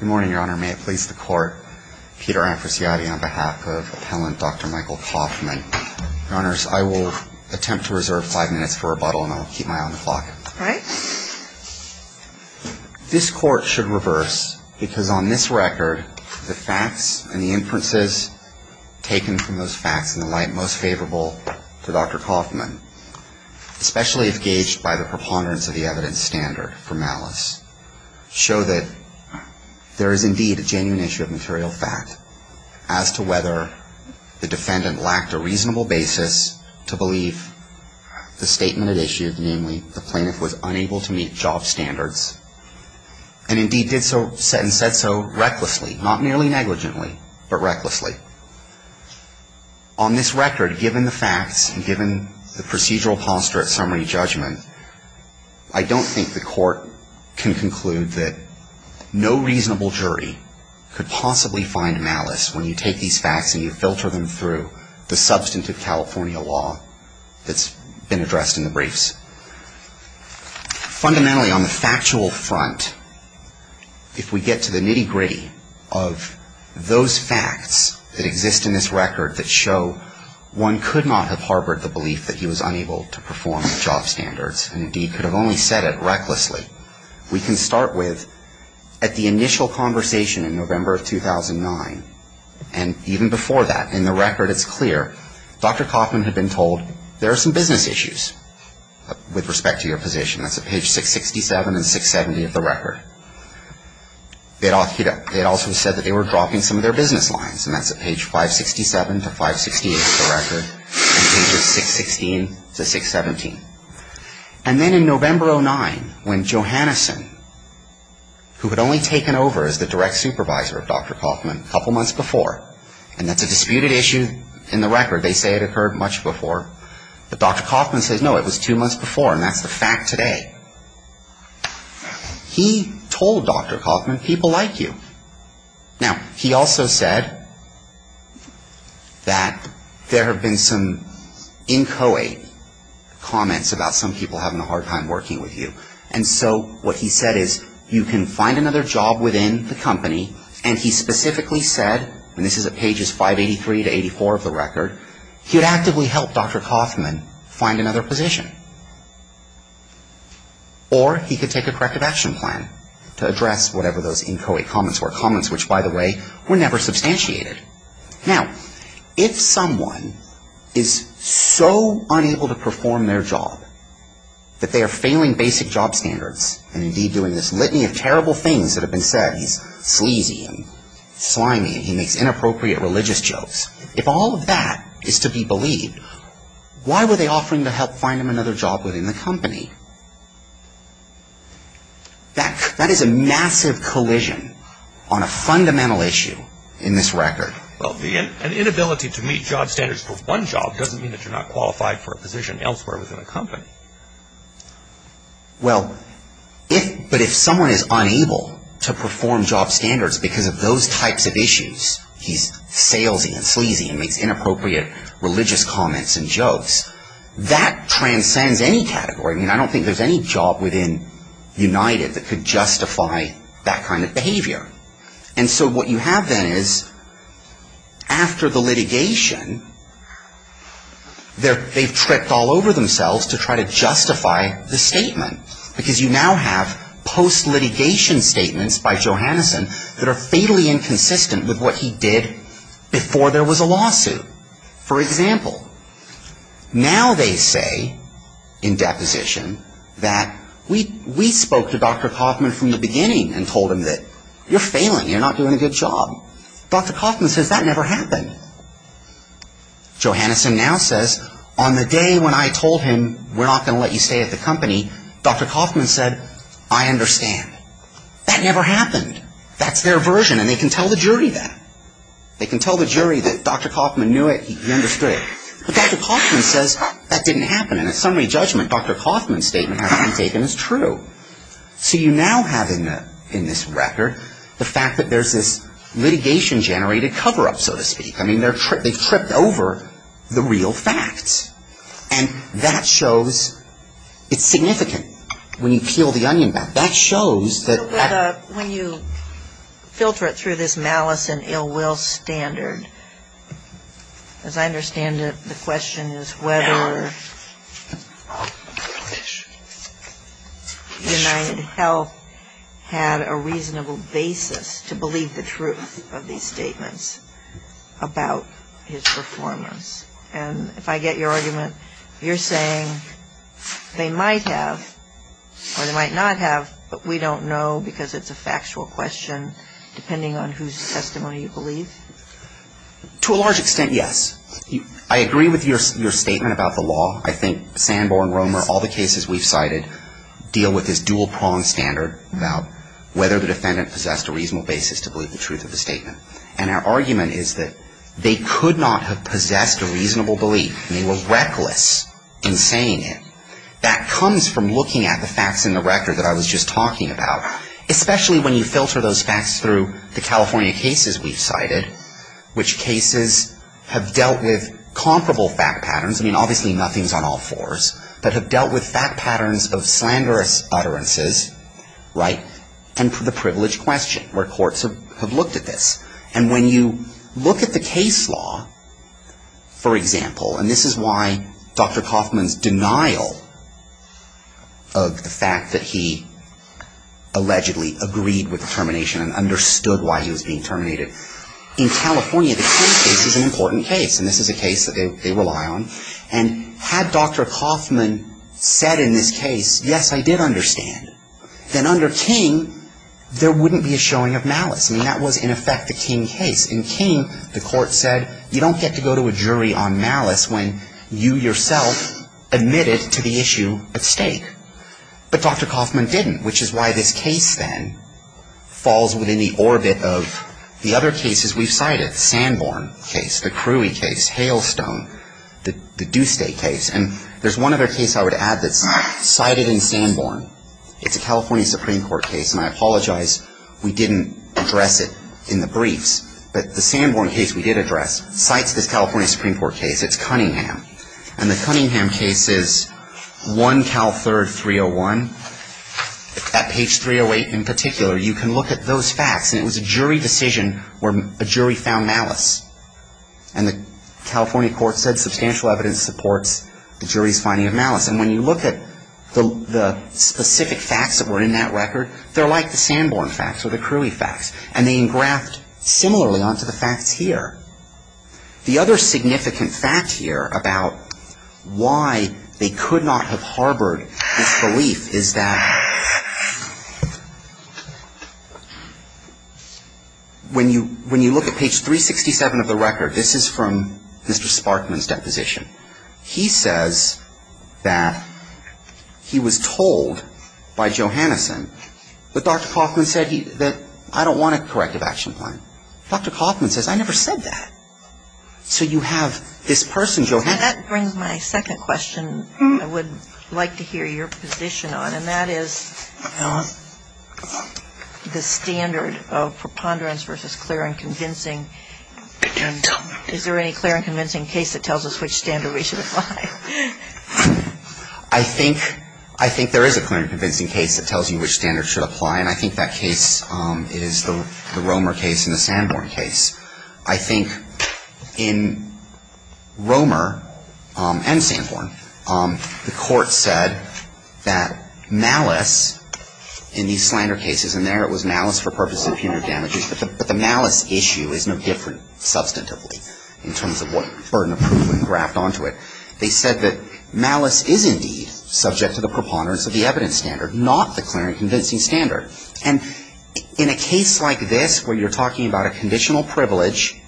Good morning, Your Honor. May it please the Court, Peter Amfrasiadi on behalf of appellant Dr. Michael Kaufman. Your Honors, I will attempt to reserve five minutes for rebuttal, and I will keep my eye on the clock. All right. This Court should reverse, because on this record, the facts and the inferences taken from those facts and the like most favorable to Dr. Kaufman, especially if gauged by the facts, there is indeed a genuine issue of material fact as to whether the defendant lacked a reasonable basis to believe the statement it issued, namely the plaintiff was unable to meet job standards, and indeed did so and said so recklessly, not merely negligently, but recklessly. On this record, given the facts and given the procedural posture at summary judgment, I don't think the reasonable jury could possibly find malice when you take these facts and you filter them through the substantive California law that's been addressed in the briefs. Fundamentally, on the factual front, if we get to the nitty-gritty of those facts that exist in this record that show one could not have harbored the belief that he was unable to perform job standards, and indeed could have only said it recklessly, we can start with at the initial conversation in November of 2009, and even before that. In the record, it's clear Dr. Kaufman had been told there are some business issues with respect to your position. That's at page 667 and 670 of the record. They had also said that they were dropping some of their business lines, and that's at page 567 to 568 of the record, and pages 616 to 617. And then in November of 2009, when Joe Hannison, who had only taken over as the direct supervisor of Dr. Kaufman a couple months before, and that's a disputed issue in the record, they say it occurred much before, but Dr. Kaufman says, no, it was two months before, and that's the fact today. He told Dr. Kaufman, people like you. Now, he also said that there have been some inchoate comments about some people having a hard time working with you, and so what he said is, you can find another job within the company, and he specifically said, and this is at pages 583 to 584 of the record, he would actively help Dr. Kaufman find another position. Or he could take a corrective action plan to address whatever those inchoate comments were, comments which, by the way, were never substantiated. Now, if someone is so unable to perform their job, that they are failing basic job standards, and indeed doing this litany of terrible things that have been said, he's sleazy and slimy and he makes inappropriate religious jokes, if all of that is to be believed, why were they offering to help find him another job within the company? That is a massive collision on a fundamental issue in this record. Well, but if someone is unable to perform job standards because of those types of issues, he's salesy and sleazy and makes inappropriate religious comments and jokes, that transcends any category. I mean, I don't think there's any job within United that could justify that kind of behavior. And so what you have then is, after the litigation, they've tripped all over themselves to try to justify the statement. Because you now have post-litigation statements by Johanneson that are fatally inconsistent with what he did before there was a lawsuit. For example, now they say, in deposition, that we spoke to Dr. Kaufman. Dr. Kaufman says, that never happened. Johanneson now says, on the day when I told him, we're not going to let you stay at the company, Dr. Kaufman said, I understand. That never happened. That's their version. And they can tell the jury that. They can tell the jury that Dr. Kaufman knew it, he understood it. But Dr. Kaufman says, that didn't happen. And in summary litigation generated cover-up, so to speak. I mean, they've tripped over the real facts. And that shows, it's significant. When you peel the onion back. That shows that at the end of the day. When you filter it through this malice and ill will standard, as I understand it, the question is whether United Health had a reasonable basis to believe the truth of these statements about his performance. And if I get your argument, you're saying they might have, or they might not have, but we don't know because it's a factual question depending on whose testimony you believe? To a large extent, yes. I agree with your statement about the law. I think Sanborn, Romer, all the cases we've cited deal with this dual-pronged standard about whether the defendant possessed a reasonable basis to believe the truth of the statement. And our argument is that they could not have possessed a reasonable belief. They were reckless in saying it. That comes from looking at the facts in the record that I was just talking about, especially when you filter those facts through the California cases we've cited, which cases have looked at this. And when you look at the case law, for example, and this is why Dr. Coffman's denial of the fact that he allegedly agreed with the termination and understood why he was being terminated. In California, the Kennedy case is an important case, and this is a case that they rely on. And had Dr. Coffman said in this case, yes, I did understand. And had Dr. Coffman said in this case, yes, then under King, there wouldn't be a showing of malice. I mean, that was, in effect, the King case. In King, the court said, you don't get to go to a jury on malice when you yourself admitted to the issue at stake. But Dr. Coffman didn't, which is why this case then falls within the orbit of the other cases we've cited, Sanborn case, the Cruy case, Hailstone, the Duesday case. And there's one other case I would add that's cited in Sanborn. It's a California Supreme Court case, and I apologize we didn't address it in the briefs. But the Sanborn case we did address cites this California Supreme Court case. It's Cunningham. And the Cunningham case is one Cal third 301. At page 308 in particular, you can look at those facts. And it was a jury decision where a jury found malice. And the California court said substantial evidence supports the jury's finding of malice. And when you look at the specific facts that were in that record, they're like the Sanborn facts or the Cruy facts. And they engraft similarly onto the facts here. The other significant fact here about why they could not have harbored this belief is that when you look at page 367 of the Sanborn record, this is from Mr. Sparkman's deposition. He says that he was told by Johanneson that Dr. Coffman said that I don't want a corrective action plan. Dr. Coffman says I never said that. So you have this person, Johanneson. And that brings my second question I would like to hear your position on, and that is the standard of preponderance versus clear and convincing. And is there any clear and convincing case that tells us which standard we should apply? I think there is a clear and convincing case that tells you which standard should apply. And I think that case is the Romer case and the Sanborn case. I think in Romer and Sanborn, the Court said that malice in these slander cases, and there it was malice for purposes of punitive damages, but the malice issue is no different substantively in terms of what burden of proof was graft onto it. They said that malice is indeed subject to the preponderance of the evidence standard, not the clear and convincing standard. And in a case like this where you're talking about a conditional privilege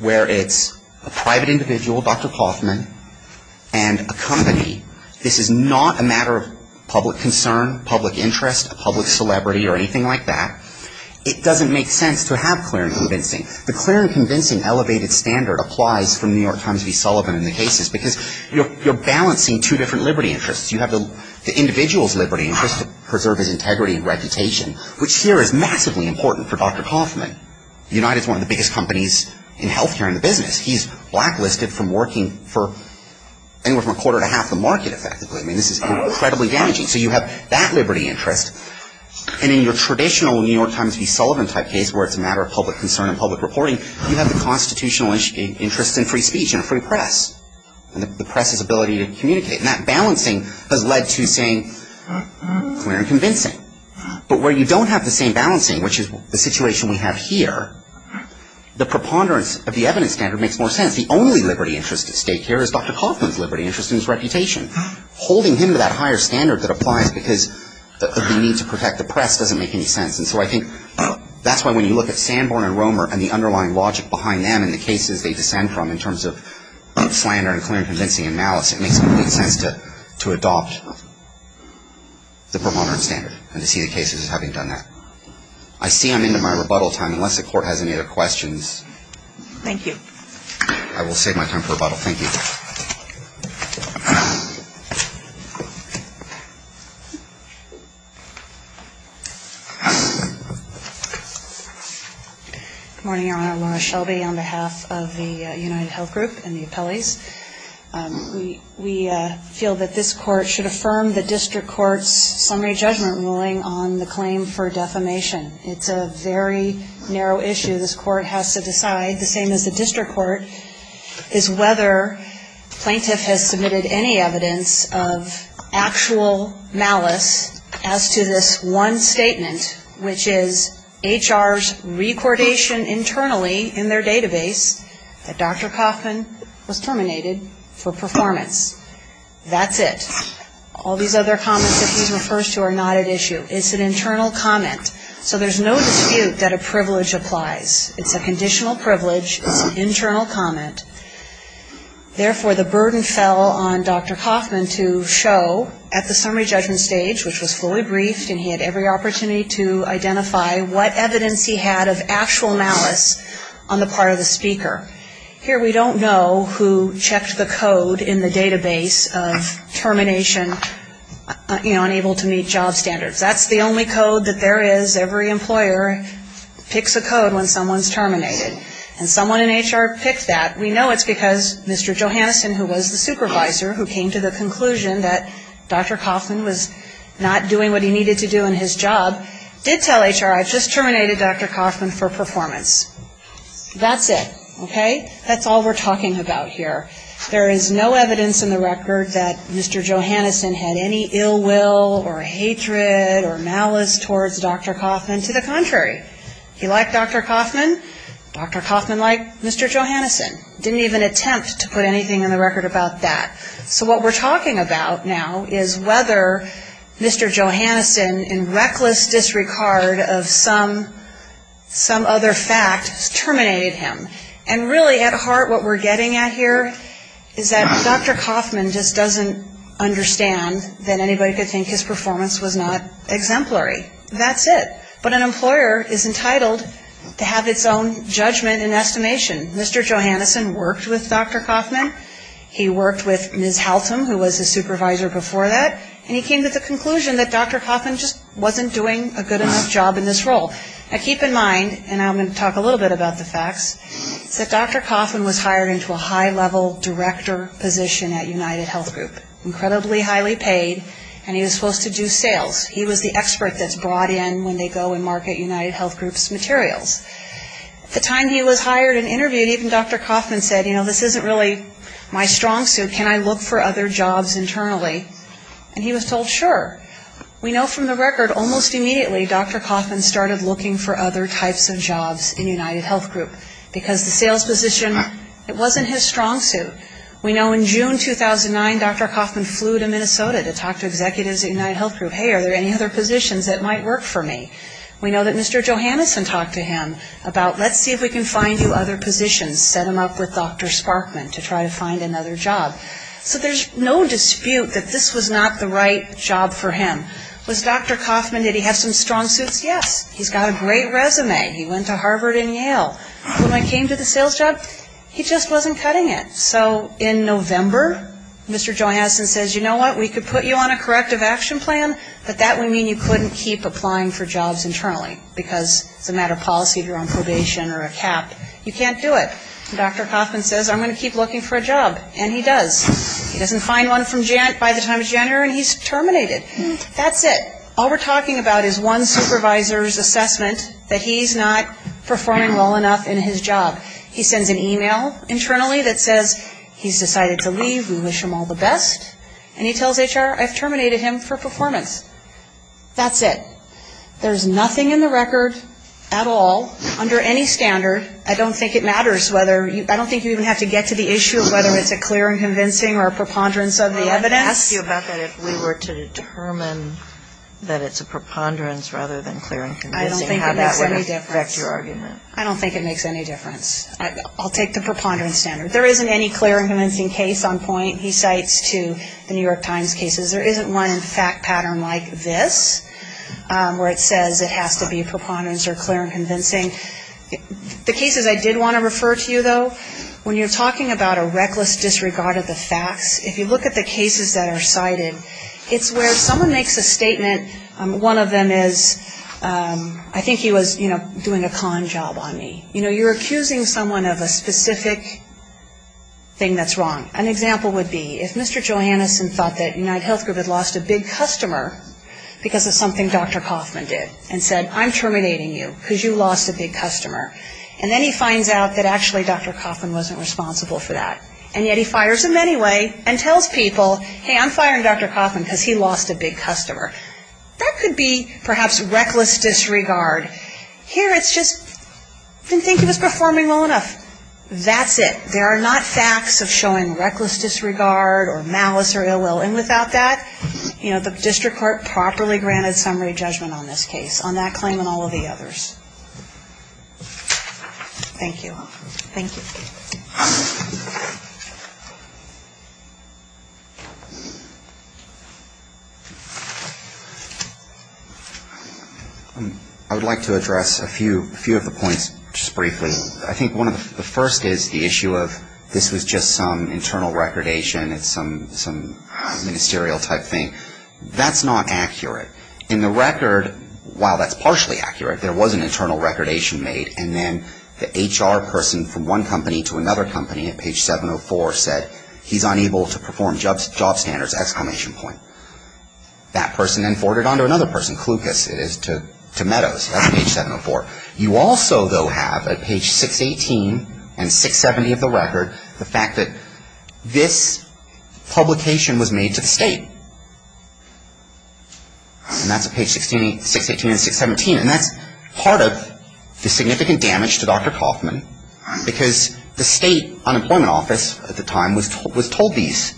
where it's a private individual, Dr. Coffman, and a company, this is not a matter of public concern, public interest, a public concern. The clear and convincing elevated standard applies from New York Times v. Sullivan in the cases because you're balancing two different liberty interests. You have the individual's liberty interest to preserve his integrity and reputation, which here is massively important for Dr. Coffman. United is one of the biggest companies in health care in the business. He's blacklisted from working for anywhere from a quarter to half the market effectively. I mean, this is incredibly damaging. So you have that liberty interest. And in your traditional New York Times v. Sullivan type case where it's a matter of public concern and public reporting, you have the constitutional interest in free speech and free press and the press's ability to communicate. And that balancing has led to saying clear and convincing. But where you don't have the same balancing, which is the situation we have here, the preponderance of the evidence standard makes more sense. The only liberty interest at stake here is Dr. Coffman's liberty interest and his reputation. Holding him to that higher standard that applies because of the need to protect the press doesn't make any sense. And so I think that's why when you look at Sanborn and Romer and the underlying logic behind them and the cases they descend from in terms of slander and clear and convincing and malice, it makes complete sense to adopt the preponderance standard and to see the cases as having done that. I see I'm into my rebuttal time. Unless the Court has any other questions. Thank you. I will save my time for rebuttal. Thank you. Good morning, Your Honor. Laura Shelby on behalf of the UnitedHealth Group and the appellees. We feel that this Court should affirm the District Court's summary judgment ruling on the claim for defamation. It's a very narrow issue. This Court has to decide, the same as the District Court, is whether the plaintiff has submitted any evidence of actual malice as to this one statement, which is HR's recordation internally in their database that Dr. Coffman was terminated for performance. That's it. All these other comments that he refers to are not at issue. It's an internal comment. So there's no dispute that a plaintiff has submitted evidence. It's a conditional privilege. It's an internal comment. Therefore, the burden fell on Dr. Coffman to show at the summary judgment stage, which was fully briefed and he had every opportunity to identify what evidence he had of actual malice on the part of the speaker. Here we don't know who checked the code in the database of termination, you know, picks a code when someone's terminated. And someone in HR picked that. We know it's because Mr. Johannesson, who was the supervisor, who came to the conclusion that Dr. Coffman was not doing what he needed to do in his job, did tell HR, I've just terminated Dr. Coffman for performance. That's it. Okay? That's all we're talking about here. There is no evidence in the record that Mr. Johannesson did anything. He liked Dr. Coffman. Dr. Coffman liked Mr. Johannesson. Didn't even attempt to put anything in the record about that. So what we're talking about now is whether Mr. Johannesson, in reckless disregard of some other fact, terminated him. And really at heart what we're getting at here is that Dr. Coffman just doesn't understand that anybody could think his performance was not exemplary. That's it. But an employer is entitled to have its own judgment and estimation. Mr. Johannesson worked with Dr. Coffman. He worked with Ms. Haltom, who was the supervisor before that. And he came to the conclusion that Dr. Coffman just wasn't doing a good enough job in this role. Now keep in mind, and I'm going to talk a little bit about the facts, that Dr. Coffman was hired to do sales. He was the expert that's brought in when they go and market United Health Group's materials. At the time he was hired and interviewed, even Dr. Coffman said, you know, this isn't really my strong suit. Can I look for other jobs internally? And he was told, sure. We know from the record almost immediately Dr. Coffman started looking for other types of jobs in United Health Group because the sales position, it wasn't his strong suit. We know in June 2009, Dr. Coffman flew to Minnesota to talk to executives at United Health Group. Hey, are there any other positions that might work for me? We know that Mr. Johannesson talked to him about, let's see if we can find you other positions, set him up with Dr. Sparkman to try to find another job. So there's no dispute that this was not the right job for him. Was Dr. Coffman, did he have some strong suits? Yes. He's got a great resume. He went to Harvard and Yale. When I came to the sales job, he just wasn't cutting it. So in November, Mr. Johannesson says, you know what, we could put you on a corrective action plan, but that would mean you couldn't keep applying for jobs internally because it's a matter of policy if you're on probation or a cap. You can't do it. Dr. Coffman says, I'm going to keep looking for a job. And he does. He doesn't find one by the time it's January and he's talking about his one supervisor's assessment that he's not performing well enough in his job. He sends an e-mail internally that says, he's decided to leave. We wish him all the best. And he tells HR, I've terminated him for performance. That's it. There's nothing in the record at all under any standard. I don't think it matters whether you, I don't think you even have to get to the issue of whether it's a clear and convincing or a preponderance of the evidence. I would ask you about that if we were to determine that it's a preponderance rather than clear and convincing, how that would affect your argument. I don't think it makes any difference. I don't think it makes any difference. I'll take the preponderance standard. There isn't any clear and convincing case on point, he cites, to the New York Times cases. There isn't one in fact pattern like this where it says it has to be preponderance or clear and convincing. The cases I did want to refer to you, though, when you're talking about a number of cases that are cited, it's where someone makes a statement, one of them is, I think he was, you know, doing a con job on me. You know, you're accusing someone of a specific thing that's wrong. An example would be if Mr. Johannesson thought that UnitedHealth Group had lost a big customer because of something Dr. Kauffman did and said, I'm terminating you because you lost a big customer. And then he finds out that actually Dr. Kauffman wasn't responsible for that. And yet he fires him anyway and tells people, hey, I'm firing Dr. Kauffman because he lost a big customer. That could be perhaps reckless disregard. Here it's just, I didn't think he was performing well enough. That's it. There are not facts of showing reckless disregard or malice or ill will. And without that, you know, the district court properly granted summary judgment on this case, on that claim and all of the others. Thank you. I would like to address a few of the points just briefly. I think one of the first is the issue of this was just some internal recordation. It's some ministerial type thing. That's not accurate. In the record, while that's partially accurate, there was an internal recordation made. And then the HR person from one company to another company at page 704 said he's unable to do this, exclamation point. That person then forwarded on to another person, Klucus it is, to Meadows. That's page 704. You also, though, have at page 618 and 670 of the record the fact that this publication was made to the state. And that's at page 618 and 617. And that's part of the significant damage to Dr. Kauffman because the state unemployment office at the time was told these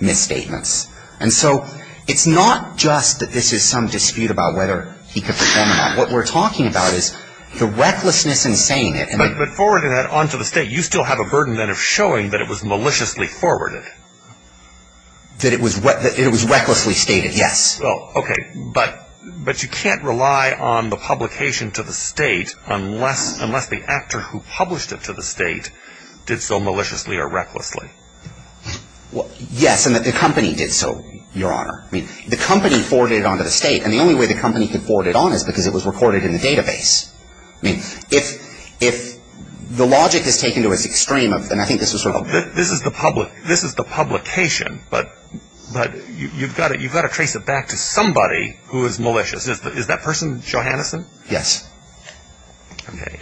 misstatements. And so it's not just that this is some dispute about whether he could perform or not. What we're talking about is the recklessness in saying it. But forwarding that on to the state, you still have a burden then of showing that it was maliciously forwarded. That it was recklessly stated, yes. Okay. But you can't rely on the publication to the state unless the actor who published it to the state did so maliciously or recklessly. Yes, and that the company did so, Your Honor. I mean, the company forwarded it on to the state. And the only way the company could forward it on is because it was recorded in the database. I mean, if the logic is taken to its extreme of, and I think this was sort of a This is the public, this is the publication, but you've got to trace it back to somebody who is malicious. Is that person Johanneson? Yes. Okay.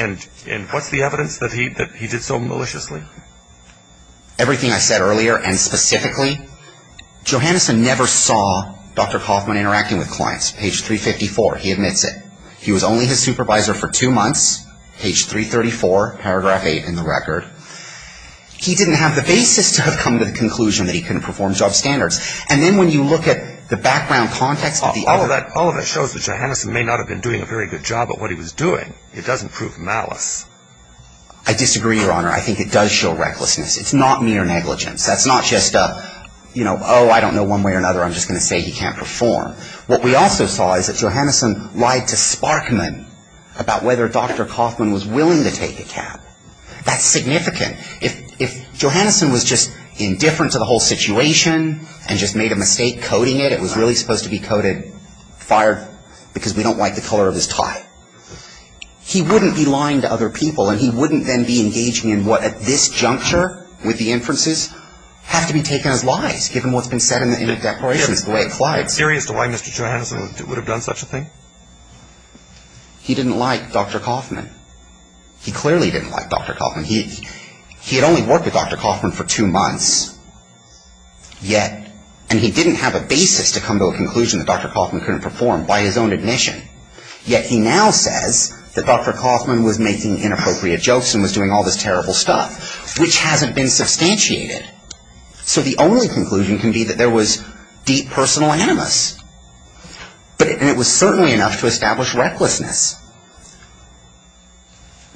And what's the evidence that he did so maliciously? Everything I said earlier and specifically, Johanneson never saw Dr. Kaufman interacting with clients. Page 354, he admits it. He was only his supervisor for two months, page 334, paragraph 8 in the record. He didn't have the basis to have come to the conclusion that he couldn't perform job standards. And then when you look at the background context of the other All of that shows that Johanneson may not have been doing a very good job at what he was doing. It doesn't prove malice. I disagree, Your Honor. I think it does show recklessness. It's not mere negligence. That's not just a, you know, oh, I don't know one way or another. I'm just going to say he can't perform. What we also saw is that Johanneson lied to Sparkman about whether Dr. Kaufman was willing to take a cab. That's significant. If Johanneson was just indifferent to the whole situation and just made a mistake coding it, it was really supposed to be coded fired because we don't like the color of his tie. He wouldn't be lying to other people and he wouldn't then be engaging in what at this juncture with the inferences have to be taken as lies, given what's been said in the declarations, the way it collides. I'm curious to why Mr. Johanneson would have done such a thing. He didn't like Dr. Kaufman. He clearly didn't like Dr. Kaufman. He had only worked with Dr. Kaufman for two months, yet, and he didn't have a basis to come to a conclusion that Dr. Kaufman couldn't perform by his own admission. Yet he now says that Dr. Kaufman was making inappropriate jokes and was doing all this terrible stuff, which hasn't been substantiated. So the only conclusion can be that there was deep personal animus, and it was certainly enough to establish recklessness.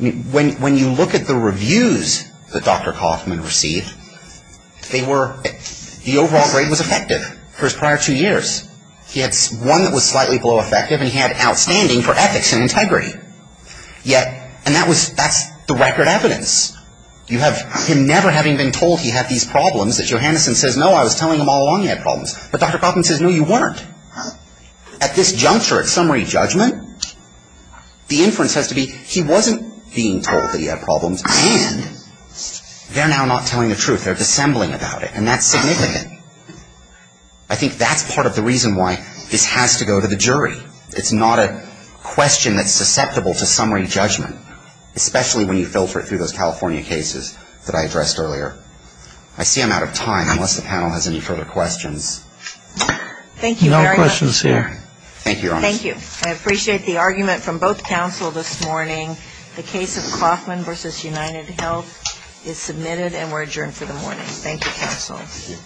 When you look at the reviews that Dr. Kaufman received, they were, the overall grade was effective for his prior two years. He had one that was slightly below effective, and he had outstanding for ethics and integrity. Yet, and that was, that's the record evidence. You have him never having been told he had these problems that Johanneson says, no, I was telling him all along he had problems. But Dr. Kaufman says, no, you weren't. At this juncture of summary judgment, the inference has to be he wasn't being told that he had problems, and they're now not telling the truth. They're dissembling about it, and that's significant. I think that's part of the reason why this has to go to the jury. It's not a question that's susceptible to summary judgment, especially when you filter through those California cases that I addressed earlier. I see I'm out of time unless the panel has any further questions. Thank you very much. No questions here. Thank you, Your Honor. Thank you. I appreciate the argument from both counsel this morning. The case of Kaufman v. UnitedHealth is submitted, and we're adjourned for the morning. Thank you, counsel. Thank you.